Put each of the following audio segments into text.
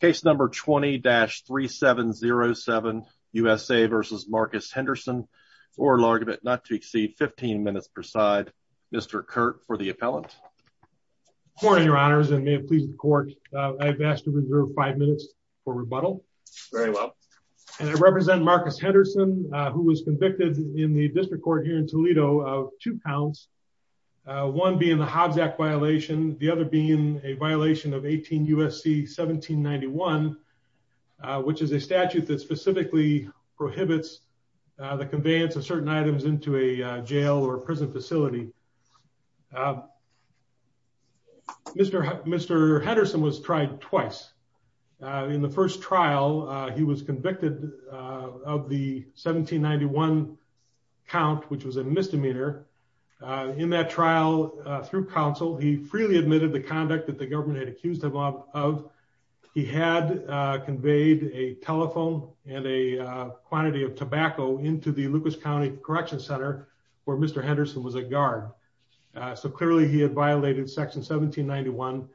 case number 20-3707 USA versus Marcus Henderson or large of it not to exceed 15 minutes per side Mr. Kurt for the appellant. Good morning your honors and may it please the court I've asked to reserve five minutes for rebuttal. Very well. And I represent Marcus Henderson who was convicted in the district court here in Toledo of two counts, one being the Hobbs Act violation, the other being a violation of 18 USC 1791, which is a statute that specifically prohibits the conveyance of certain items into a jail or prison facility. Mr. Mr. Henderson was tried twice in the first trial, he was convicted of the 1791 count which was a misdemeanor in that trial through counsel, he freely admitted the conduct that the government had accused him of. He had conveyed a telephone and a quantity of tobacco into the Lucas County Correction Center for Mr. Henderson was a guard. So clearly he had violated section 1791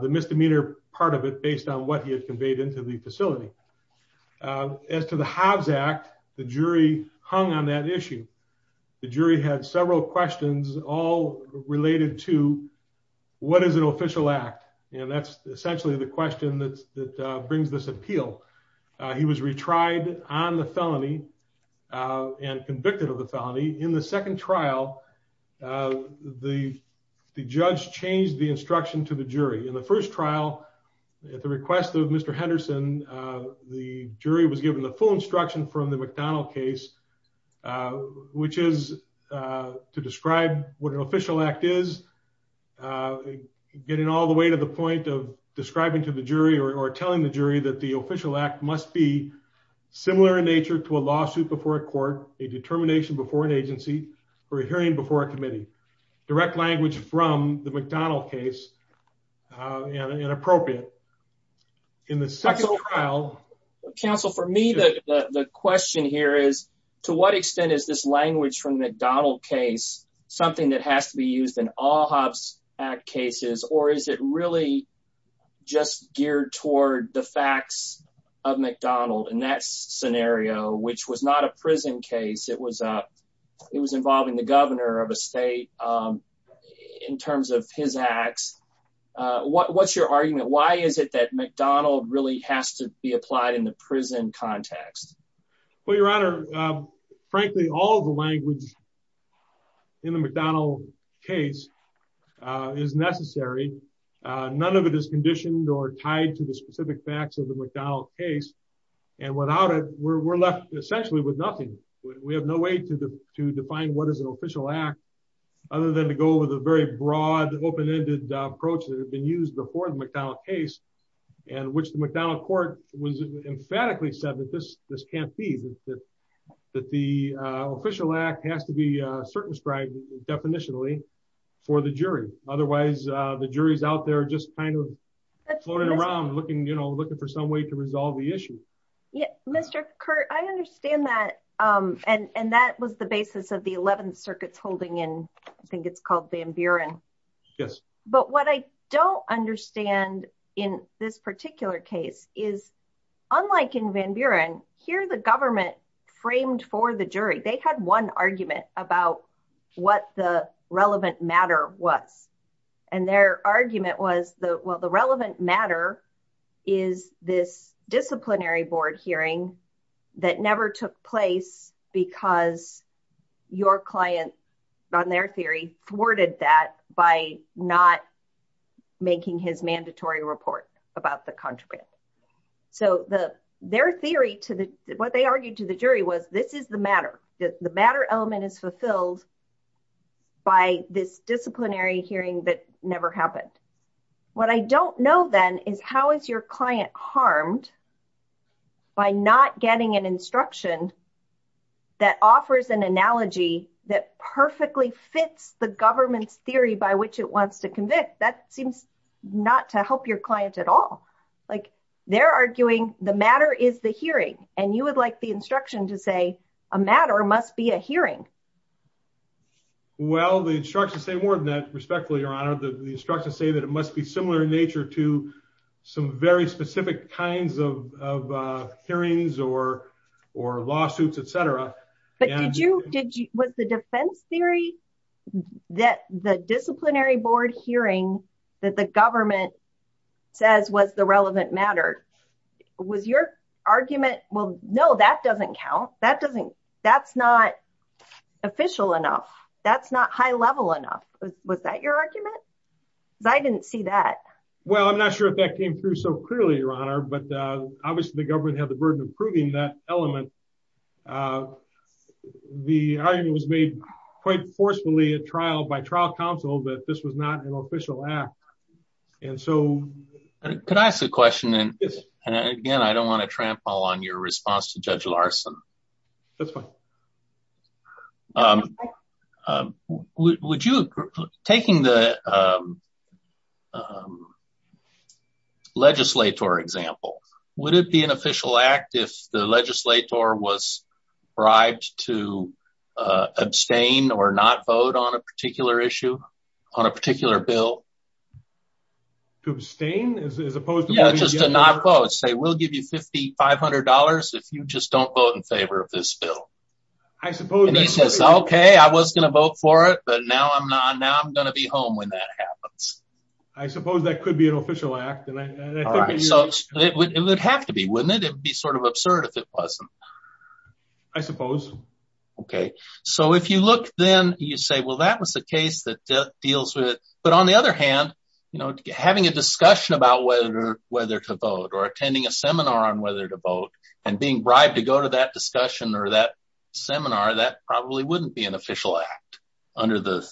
the misdemeanor part of it based on what he had conveyed into the facility. As to the Hobbs Act, the jury hung on that issue. The jury had several questions, all related to what is an official act. And that's essentially the question that brings this appeal. He was retried on the felony and convicted of the felony in the second trial. The judge changed the instruction to the jury in the first trial, at the request of Mr. Henderson, the jury was given the full instruction from the McDonnell case, which is to describe what an official act is, getting all the way to the point of describing to the jury or telling the jury that the official act must be similar in nature to a lawsuit before a court, a determination before an agency, or a hearing before a committee. Direct language from the McDonnell case, inappropriate. In the second trial- Counsel, for me, the question here is, to what extent is this language from the McDonnell case, something that has to be used in all Hobbs Act cases, or is it really just geared toward the facts of McDonnell in that scenario, which was not a prison case, it was involving the governor of a state in terms of his acts. What's your argument? Why is it that McDonnell really has to be applied in the prison context? Well, your honor, frankly, all the language in the McDonnell case is necessary. None of it is conditioned or tied to the specific facts of the McDonnell case. And without it, we're left essentially with nothing. We have no way to define what is an official act other than to go with a very broad, open-ended approach that had been used before the McDonnell case, and which the McDonnell court emphatically said that this can't be, that the official act has to be circumscribed definitionally for the jury. Otherwise, the jury's out there just kind of floating around, looking for some way to resolve the issue. Mr. Curt, I understand that. And that was the basis of the 11th Circuit's holding in, I think it's called Van Buren. But what I don't understand in this particular case is, unlike in Van Buren, here the government framed for the jury, they had one argument about what the relevant matter was. And their argument was, well, the relevant matter is this disciplinary board hearing that never took place because your client, on their theory, thwarted that by not making his mandatory report about the contraband. So their theory, what they argued to the jury was, this is the matter. The matter element is fulfilled by this disciplinary hearing that never happened. What I don't know, then, is how is your client harmed by not getting an instruction that offers an analogy that perfectly fits the government's theory by which it wants to convict? That seems not to help your client at all. They're arguing the matter is the hearing, and you would like the instruction to say a matter must be a hearing. Well, the instructions say more than that, respectfully, Your Honor. The instructions say that it must be similar in nature to some very specific kinds of hearings or lawsuits, etc. But was the defense theory that the disciplinary board hearing that the government says was the relevant matter, was your argument, well, no, that doesn't count. That doesn't, that's not official enough. That's not high level enough. Was that your argument? Because I didn't see that. Well, I'm not sure if that came through so clearly, Your Honor. But obviously, the government had the burden of proving that element. The argument was made quite forcefully at trial by trial counsel that this was not an official act. And so... Could I ask a question? And again, I don't want to trample on your response to Judge Larson. That's fine. Would you, taking the legislator example, would it be an official act if the legislator was bribed to abstain or not vote on a particular issue, on a particular bill? To abstain as opposed to voting against? Yeah, just to not vote. I suppose that could be an official act, and I think that you... And he says, okay, I was going to vote for it, but now I'm not, now I'm going to be home when that happens. I suppose that could be an official act, and I think that you... All right, so it would have to be, wouldn't it? It would be sort of absurd if it wasn't. I suppose. Okay. So if you look then, you say, well, that was the case that deals with... But on the other hand, having a discussion about whether to vote or attending a seminar on whether to vote and being bribed to go to that discussion or that seminar, that probably wouldn't be an official act under the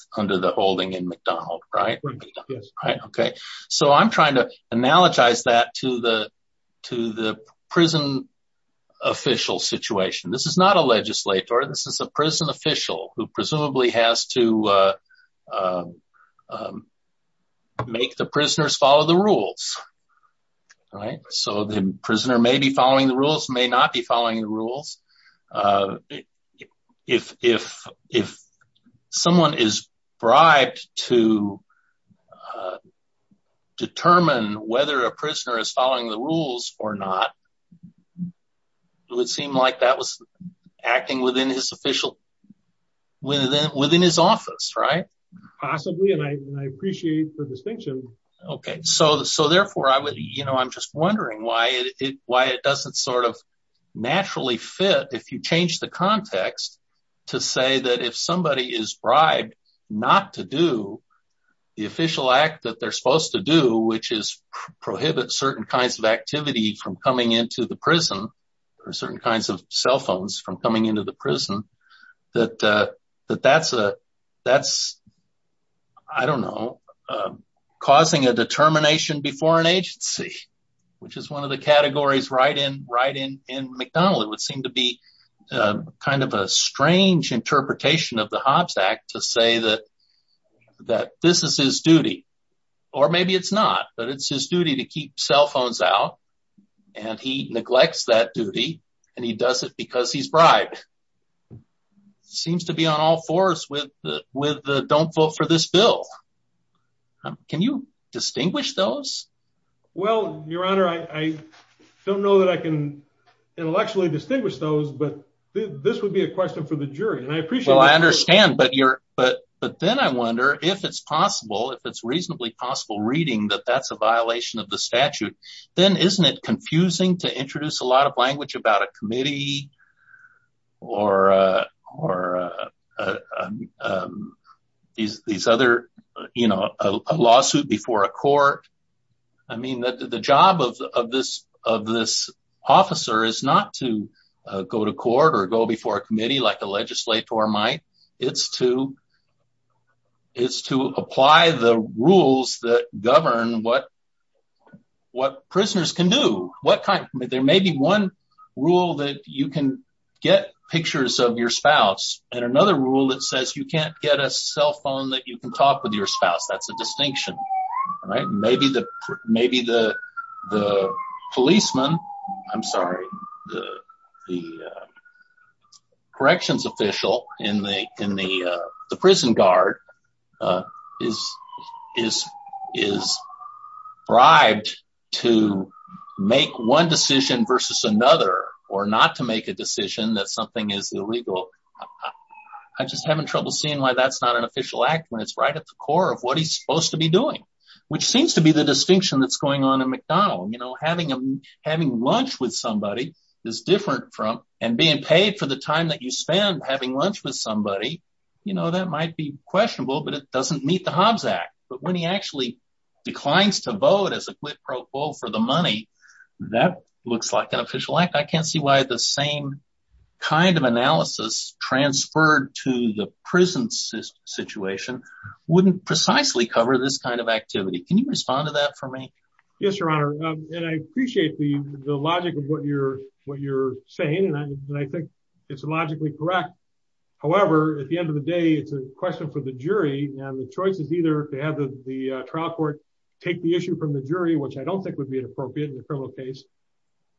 holding in McDonald, right? Wouldn't be, yes. Right, okay. So I'm trying to analogize that to the prison official situation. This is not a legislator. This is a prison official who presumably has to make the prisoners follow the rules, right? So the prisoner may be following the rules, may not be following the rules. If someone is bribed to determine whether a prisoner is following the rules or not, it would seem like that was acting within his official, within his office, right? Possibly, and I appreciate the distinction. Okay, so therefore, I'm just wondering why it doesn't sort of naturally fit if you change the context to say that if somebody is bribed not to do the official act that they're supposed to do, which is prohibit certain kinds of activity from coming into the prison or certain kinds of cell phones from coming into the prison, that that's, I don't know, causing a determination before an agency, which is one of the categories right in McDonald. It would seem to be kind of a strange interpretation of the Hobbes Act to say that this is his duty, maybe it's not, but it's his duty to keep cell phones out, and he neglects that duty and he does it because he's bribed. Seems to be on all fours with the don't vote for this bill. Can you distinguish those? Well, your honor, I don't know that I can intellectually distinguish those, but this would be a question for the jury, and I appreciate that. Well, I understand, but then I wonder if it's possible, if it's reasonably possible, reading that that's a violation of the statute, then isn't it confusing to introduce a lot of language about a committee or these other, you know, a lawsuit before a court? I mean, the job of this officer is not to go to court or go before a committee like a legislator might, it's to apply the rules that govern what prisoners can do. There may be one rule that you can get pictures of your spouse, and another rule that says you can't get a cell phone that you can talk with your spouse, that's a distinction. Maybe the policeman, I'm sorry, the corrections official in the prison guard is bribed to make one decision versus another or not to make a decision that something is illegal. I just have trouble seeing why that's not an official act when it's right at the core of what he's supposed to be doing, which seems to be the distinction that's going on in McDonald. You know, having lunch with somebody is different from, and being paid for the time that you spend having lunch with somebody, you know, that might be questionable, but it doesn't meet the Hobbs Act. But when he actually declines to vote as a quid pro quo for the money, that looks like an official act. I can't see why the same kind of analysis transferred to the prison situation wouldn't precisely cover this kind of activity. Can you respond to that for me? Yes, Your Honor. And I appreciate the logic of what you're saying, and I think it's logically correct. However, at the end of the day, it's a question for the jury, and the choice is either to have the trial court take the issue from the jury, which I don't think would be inappropriate in a criminal case,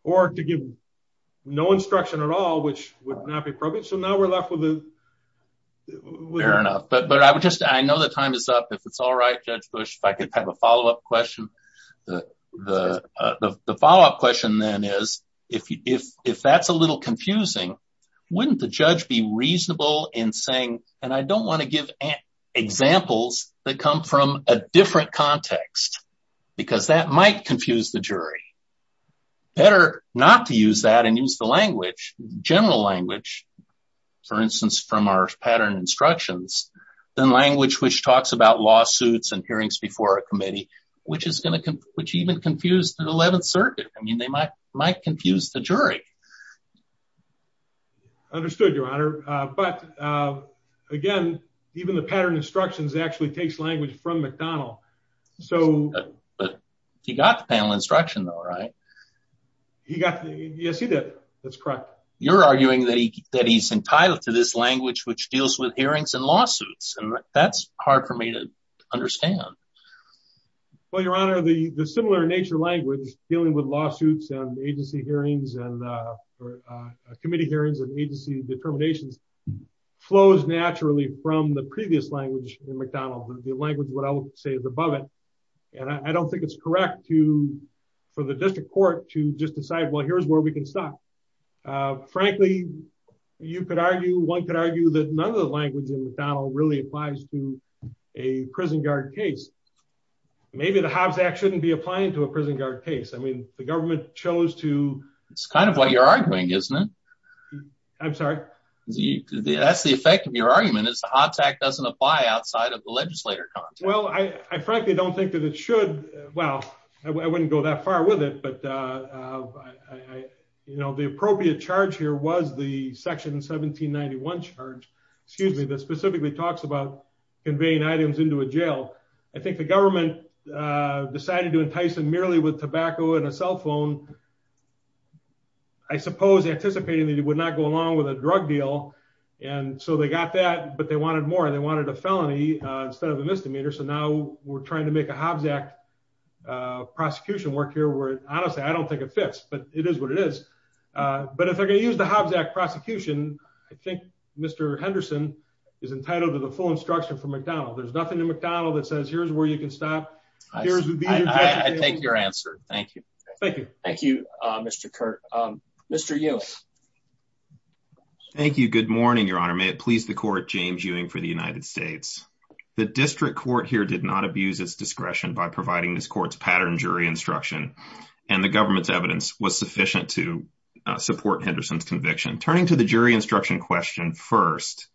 or to give no instruction at all, which would not be appropriate. So now we're left with a... Fair enough. But I would just... I know the time is up. If it's all right, Judge Bush, if I could have a follow-up question. The follow-up question then is, if that's a little confusing, wouldn't the judge be reasonable in saying, and I don't want to give examples that come from a different context, because that might confuse the jury. Better not to use that and use the language, general language, for instance, from our pattern instructions, than language which talks about lawsuits and hearings before a committee, which even confused the 11th Circuit. I mean, they might confuse the jury. Understood, Your Honor. But again, even the pattern instructions actually takes language from McDonnell. So... But he got the panel instruction though, right? He got... Yes, he did. That's correct. But you're arguing that he's entitled to this language, which deals with hearings and lawsuits. That's hard for me to understand. Well, Your Honor, the similar in nature language dealing with lawsuits and agency hearings and committee hearings and agency determinations flows naturally from the previous language in McDonnell. The language, what I would say, is above it. And I don't think it's correct for the district court to just decide, well, here's where we can stop. Frankly, you could argue, one could argue that none of the language in McDonnell really applies to a prison guard case. Maybe the Hobbs Act shouldn't be applying to a prison guard case. I mean, the government chose to... It's kind of what you're arguing, isn't it? I'm sorry? That's the effect of your argument is the Hobbs Act doesn't apply outside of the legislator context. Well, I frankly don't think that it should. Well, I wouldn't go that far with it, but the appropriate charge here was the section 1791 charge, excuse me, that specifically talks about conveying items into a jail. I think the government decided to entice them merely with tobacco and a cell phone, I suppose anticipating that it would not go along with a drug deal. And so they got that, but they wanted more and they wanted a felony instead of a misdemeanor. So now we're trying to make a Hobbs Act prosecution work here where, honestly, I don't think it fits, but it is what it is. But if they're going to use the Hobbs Act prosecution, I think Mr. Henderson is entitled to the full instruction from McDonnell. There's nothing in McDonnell that says, here's where you can stop. I take your answer. Thank you. Thank you. Thank you, Mr. Kurt. Mr. Ewing. Thank you. Good morning, Your Honor. May it please the court, James Ewing for the United States. The district court here did not abuse its discretion by providing this court's pattern jury instruction, and the government's evidence was sufficient to support Henderson's conviction. Turning to the jury instruction question first,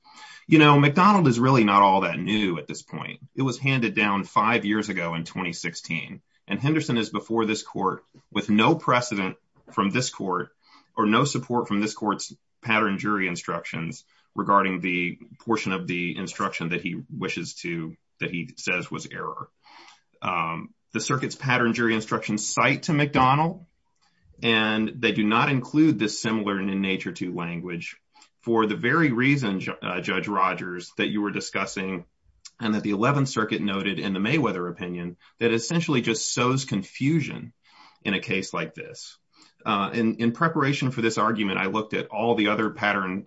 you know, McDonnell is really not all that new at this point. It was handed down five years ago in 2016, and Henderson is before this court with no precedent from this court or no support from this court's pattern jury instructions regarding the portion of the instruction that he wishes to, that he says was error. The circuit's pattern jury instructions cite to McDonnell, and they do not include this similar in nature to language for the very reason, Judge Rogers, that you were discussing and that the 11th Circuit noted in the Mayweather opinion that essentially just sows confusion in a case like this. In preparation for this argument, I looked at all the other pattern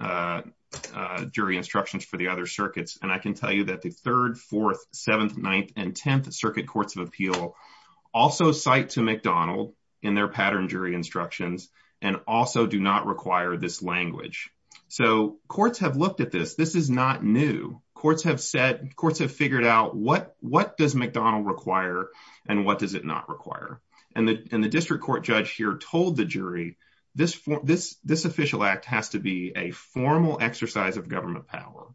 jury instructions for the other circuits, and I can tell you that the 3rd, 4th, 7th, 9th, and 10th Circuit Courts of Appeal also cite to McDonnell in their pattern jury instructions and also do not require this language. So courts have looked at this. This is not new. Courts have said, courts have figured out what does McDonnell require and what does it not require. And the district court judge here told the jury, this official act has to be a formal exercise of government power.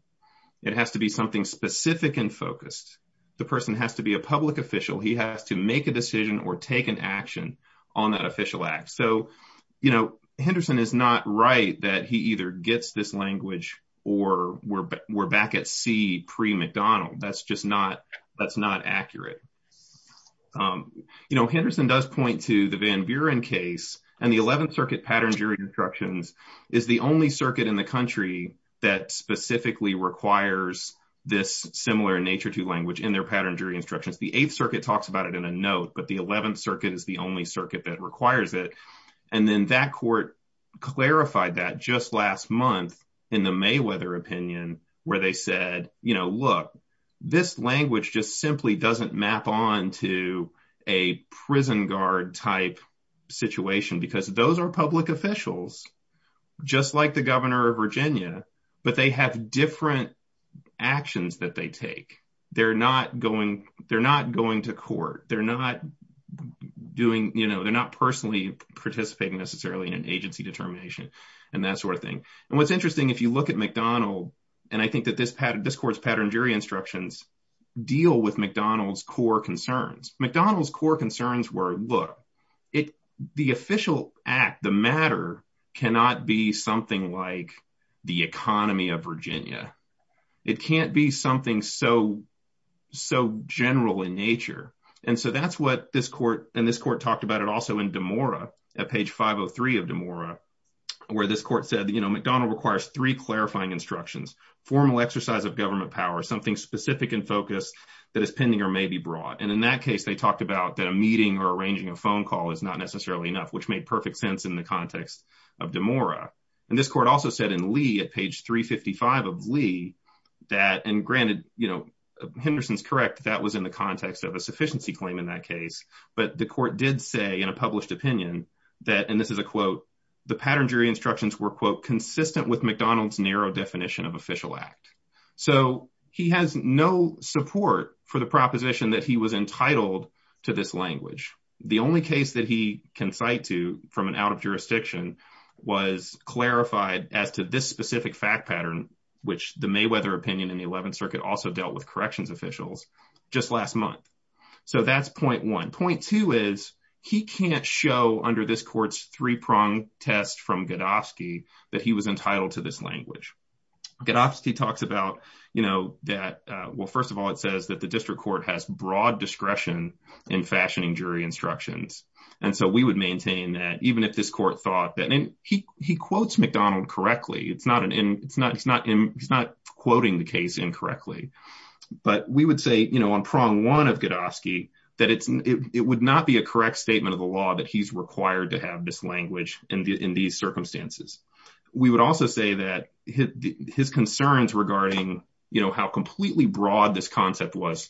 It has to be something specific and focused. The person has to be a public official. He has to make a decision or take an action on that official act. So, you know, Henderson is not right that he either gets this language or we're back at sea pre-McDonnell. That's just not that's not accurate. You know, Henderson does point to the Van Buren case and the 11th Circuit pattern jury instructions is the only circuit in the country that specifically requires this similar nature to language in their pattern jury instructions. The 8th Circuit talks about it in a note, but the 11th Circuit is the only circuit that requires it. And then that court clarified that just last month in the Mayweather opinion, where they said, you know, look, this language just simply doesn't map on to a prison guard type situation because those are public officials just like the governor of Virginia. But they have different actions that they take. They're not going they're not going to court. They're not doing you know, they're not personally participating necessarily in an agency determination and that sort of thing. And what's interesting, if you look at McDonald and I think that this pattern, this court's pattern jury instructions deal with McDonald's core concerns. McDonald's core concerns were, look, it the official act, the matter cannot be something like the economy of Virginia. It can't be something so so general in nature. And so that's what this court and this court talked about it also in DeMora at page 503 of DeMora, where this court said, you know, McDonald requires three clarifying instructions, formal exercise of government power, something specific and focus that is pending or may be brought. And in that case, they talked about that a meeting or arranging a phone call is not necessarily enough, which made perfect sense in the context of DeMora. And this court also said in Lee at page 355 of Lee that and granted, you know, Henderson's correct. That was in the context of a sufficiency claim in that case. But the court did say in a published opinion that and this is a quote, the pattern jury instructions were, quote, consistent with McDonald's narrow definition of official act. So he has no support for the proposition that he was entitled to this language. The only case that he can cite to from an out of jurisdiction was clarified as to this specific fact pattern, which the Mayweather opinion in the 11th Circuit also dealt with corrections officials just last month. So that's point one point two is he can't show under this court's three prong test from Godofsky that he was entitled to this language. Godofsky talks about, you know, that, well, first of all, it says that the district court has broad discretion in fashioning jury instructions. And so we would maintain that even if this court thought that he quotes McDonald correctly, it's not an it's not it's not he's not quoting the case incorrectly. But we would say, you know, on prong one of Godofsky that it's it would not be a correct statement of the law that he's required to have this language in these circumstances. We would also say that his concerns regarding, you know, how completely broad this concept was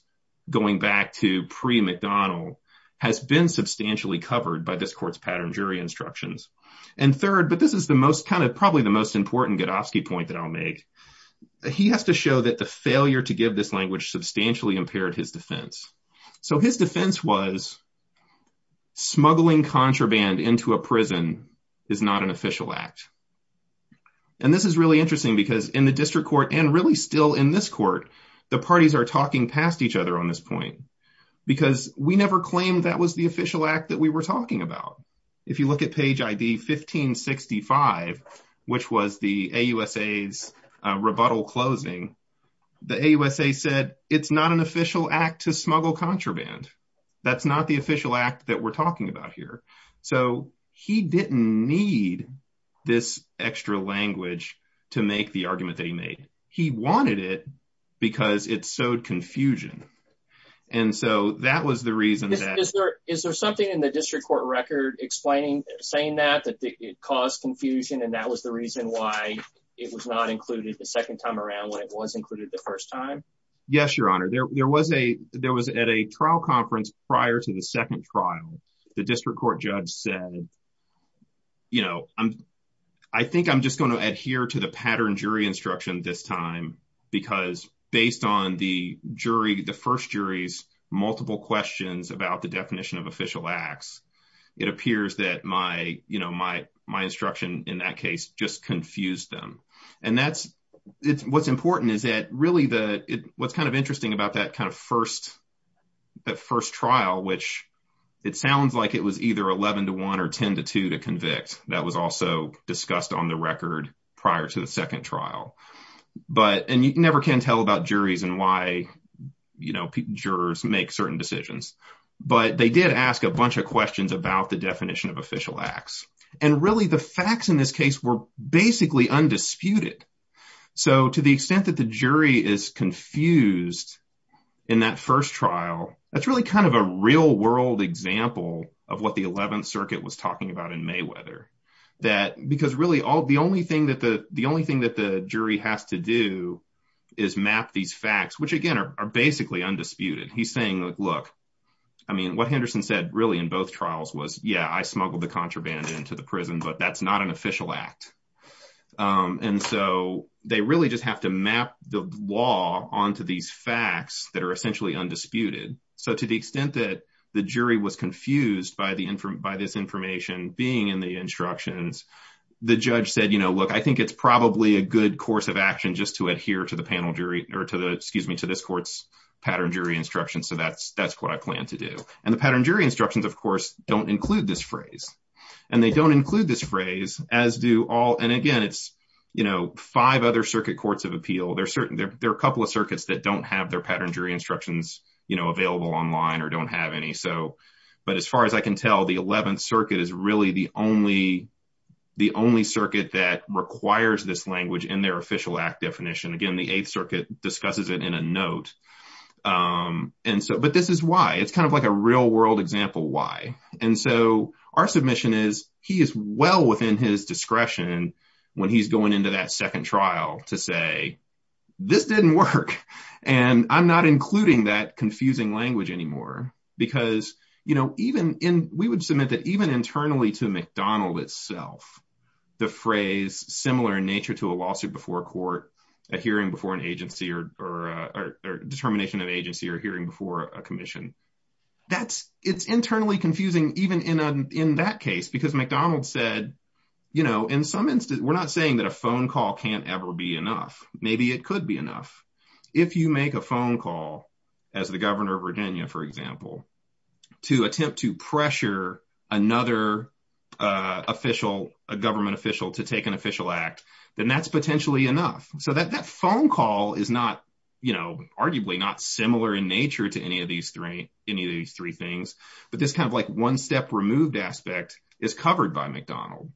going back to pre-McDonald has been substantially covered by this court's pattern jury instructions. And third, but this is the most kind of probably the most important Godofsky point that I'll make, he has to show that the failure to give this language substantially impaired his defense. So his defense was smuggling contraband into a prison is not an official act. And this is really interesting because in the district court and really still in this court, the parties are talking past each other on this point because we never claimed that was the official act that we were talking about. If you look at page 1565, which was the AUSA's rebuttal closing, the AUSA said it's not an official act to smuggle contraband. That's not the official act that we're talking about here. So he didn't need this extra language to make the argument that he made. He wanted it because it sowed confusion. And so that was the reason. Is there something in the district court record explaining saying that that it caused confusion and that was the reason why it was not included the second time around when it was included the first time? Yes, your honor. There was a there was at a trial conference prior to the second trial. The district court judge said, you know, I think I'm just going to adhere to the pattern jury instruction this time, because based on the jury, the first jury's multiple questions about the definition of official acts, it appears that my you know, my my instruction in that case just confused them. And that's what's important is that really the what's kind of interesting about that kind of first that first trial, which it sounds like it was either 11 to one or 10 to two to convict. That was also discussed on the record prior to the second trial. But and you never can tell about juries and why, you know, jurors make certain decisions. But they did ask a bunch of questions about the definition of official acts. And really, the facts in this case were basically undisputed. So to the extent that the jury is confused in that first trial, that's really kind of a real world example of what the 11th Circuit was talking about in Mayweather, that because really all the only thing that the the only thing that the jury has to do is map these facts, which, again, are basically undisputed. He's saying, look, I mean, what Henderson said really in both trials was, yeah, I smuggled the contraband into the prison, but that's not an official act. And so they really just have to map the law onto these facts that are essentially undisputed. So to the extent that the jury was confused by the by this information being in the instructions, the judge said, you know, look, I think it's probably a good course of action just to adhere to the panel jury or to the excuse me, to this court's pattern jury instruction. So that's that's what I plan to do. And the pattern jury instructions, of course, don't include this phrase and they don't include this phrase as do all. And again, it's, you know, five other circuit courts of appeal. There are certain there are a couple of circuits that don't have their pattern jury instructions available online or don't have any. So but as far as I can tell, the 11th Circuit is really the only the only circuit that requires this language in their official act definition. Again, the 8th Circuit discusses it in a note. And so but this is why it's kind of like a real world example. Why? And so our submission is he is well within his discretion when he's going into that second trial to say this didn't work and I'm not including that confusing language anymore because, you know, even in we would submit that even internally to McDonald itself, the phrase similar in nature to a lawsuit before court, a hearing before an agency or a determination of agency or hearing before a commission. That's it's internally confusing, even in that case, because McDonald said, you know, in some instance, we're not saying that a phone call can't ever be enough. Maybe it could be enough if you make a phone call as the governor of Virginia, for example, to attempt to pressure another official, a government official to take an official act, then that's potentially enough so that that phone call is not, you know, arguably not similar in nature to any of these three, any of these three things. But this kind of like one step removed aspect is covered by McDonald.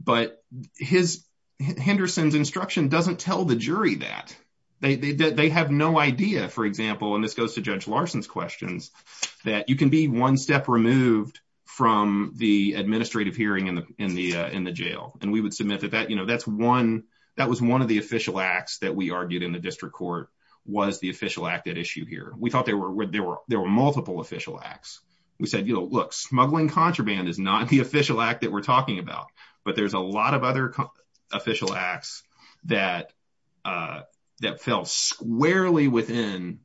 But his Henderson's instruction doesn't tell the jury that they have no idea, for example, and this goes to Judge Larson's questions, that you can be one step removed from the administrative hearing in the in the in the jail. And we would submit that that, you know, that's one that was one of the official acts that we argued in the district court was the official act at issue here. We thought there were there were there were multiple official acts. We said, you know, look, smuggling contraband is not the official act that we're talking about, but there's a lot of other official acts that that fell squarely within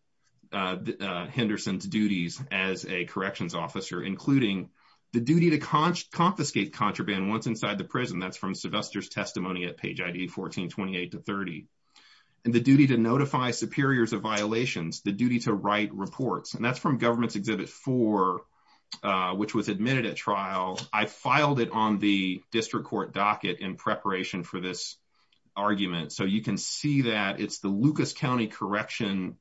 Henderson's duties as a corrections officer, including the duty to confiscate contraband once inside the prison. That's from Sylvester's testimony at page 14, 28 to 30, and the duty to notify superiors of violations, the duty to write reports. And that's from government's exhibit for which was admitted at trial. I filed it on the district court docket in preparation for this argument. So you can see that it's the Lucas County Correction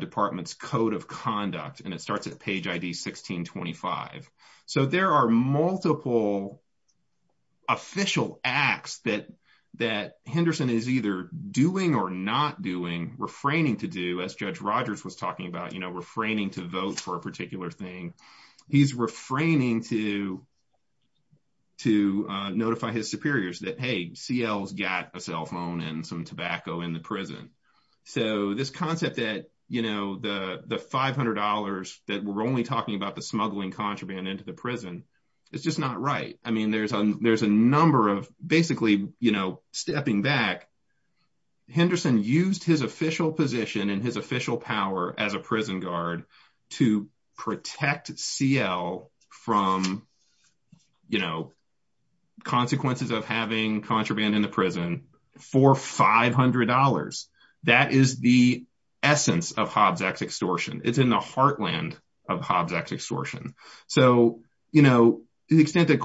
Department's code of conduct. And it starts at page 16, 25. So there are multiple. Official acts that that Henderson is either doing or not doing, refraining to do, as in he's refraining to vote for a particular thing, he's refraining to to notify his superiors that, hey, CL's got a cell phone and some tobacco in the prison. So this concept that, you know, the the five hundred dollars that we're only talking about the smuggling contraband into the prison, it's just not right. I mean, there's a there's a number of basically, you know, stepping back. Henderson used his official position and his official power as a prison guard to protect CL from, you know, consequences of having contraband in the prison for five hundred dollars. That is the essence of Hobbs Act extortion. It's in the heartland of Hobbs Act extortion. So, you know, to the extent that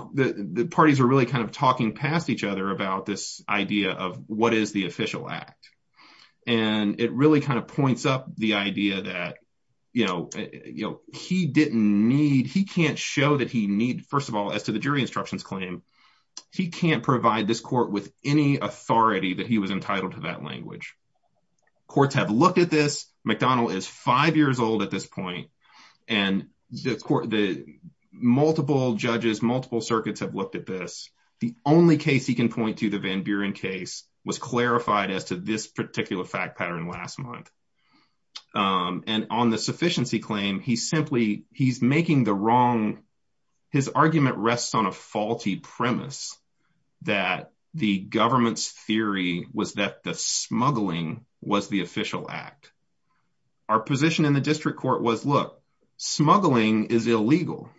the parties are really kind of talking past each other about this idea of what is the official act and it really kind of points up the idea that, you know, you know, he didn't need he can't show that he need. First of all, as to the jury instructions claim, he can't provide this court with any authority that he was entitled to that language. Courts have looked at this. McDonnell is five years old at this point, and the court, the multiple judges, multiple circuits have looked at this. The only case he can point to, the Van Buren case, was clarified as to this particular fact pattern last month. And on the sufficiency claim, he's simply he's making the wrong. His argument rests on a faulty premise that the government's theory was that the smuggling was the official act. Our position in the district court was look, smuggling is illegal.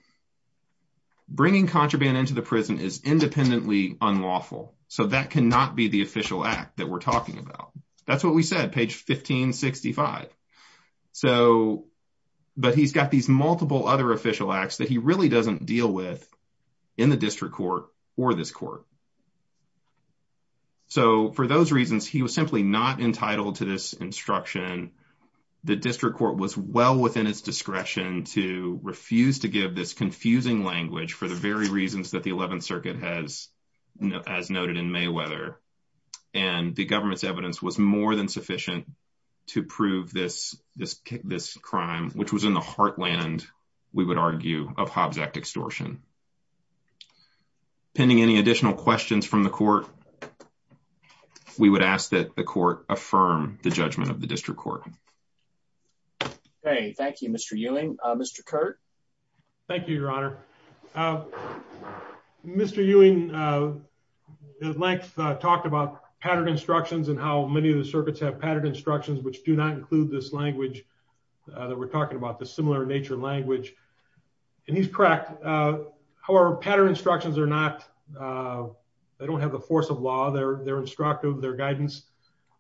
Bringing contraband into the prison is independently unlawful. So that cannot be the official act that we're talking about. That's what we said. Page 1565. So, but he's got these multiple other official acts that he really doesn't deal with in the district court or this court. So for those reasons, he was simply not entitled to this instruction. The district court was well within its discretion to refuse to give this confusing language for the very reasons that the 11th Circuit has, as noted in Mayweather, and the government's evidence was more than sufficient to prove this, this, this crime, which was in the heartland, we would argue, of Hobbs Act extortion. Pending any additional questions from the court, we would ask that the court affirm the district court. Hey, thank you, Mr. Ewing, Mr. Curt. Thank you, Your Honor. Mr. Ewing talked about patterned instructions and how many of the circuits have patterned instructions, which do not include this language that we're talking about, the similar nature language. And he's correct. However, patterned instructions are not they don't have the force of law. They're they're instructive, their guidance.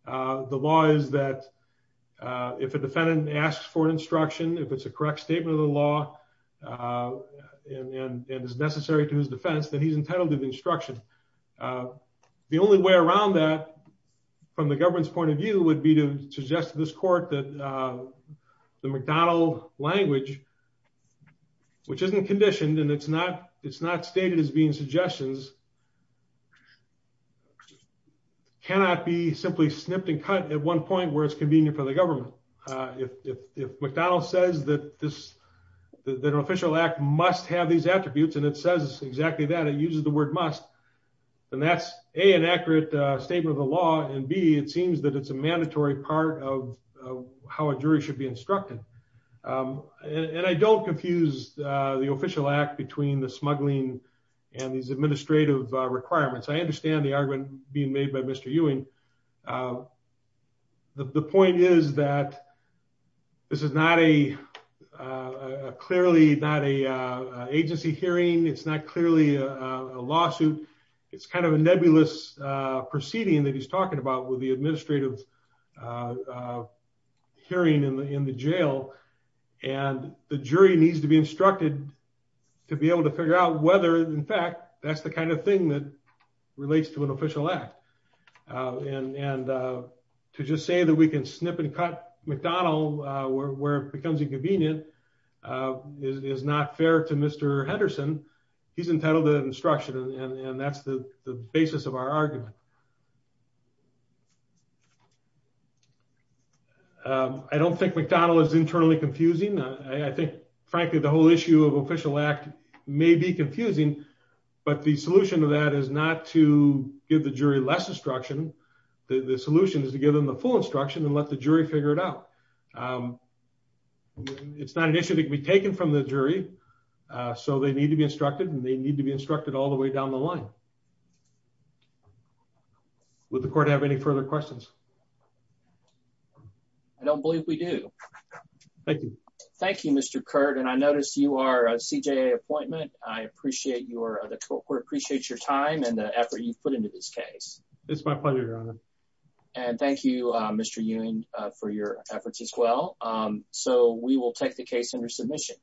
The law is that if a defendant asks for instruction, if it's a correct statement of the law and is necessary to his defense, then he's entitled to the instruction. The only way around that from the government's point of view would be to suggest to this court that the McDonald language, which isn't conditioned and it's not it's not stated as being suggestions. Cannot be simply snipped and cut at one point where it's convenient for the government. If McDonald says that this that an official act must have these attributes and it says exactly that it uses the word must, then that's a an accurate statement of the law. And B, it seems that it's a mandatory part of how a jury should be instructed. And I don't confuse the official act between the smuggling and these administrative requirements. I understand the argument being made by Mr. Ewing. The point is that. This is not a clearly not a agency hearing, it's not clearly a lawsuit, it's kind of a nebulous proceeding that he's talking about with the administrative hearing in the jail. And the jury needs to be instructed to be able to figure out whether, in fact, that's the kind of thing that relates to an official act. And to just say that we can snip and cut McDonald where it becomes inconvenient is not fair to Mr. Henderson. He's entitled to instruction and that's the basis of our argument. I don't think McDonald is internally confusing, I think, frankly, the whole issue of official act may be confusing, but the solution to that is not to give the jury less instruction. The solution is to give them the full instruction and let the jury figure it out. It's not an issue to be taken from the jury, so they need to be instructed and they need to be instructed all the way down the line. So. Would the court have any further questions? I don't believe we do. Thank you. Thank you, Mr. Kurt, and I noticed you are a CJA appointment. I appreciate your the court appreciates your time and the effort you've put into this case. It's my pleasure, Your Honor. And thank you, Mr. Ewing, for your efforts as well. So we will take the case under submission.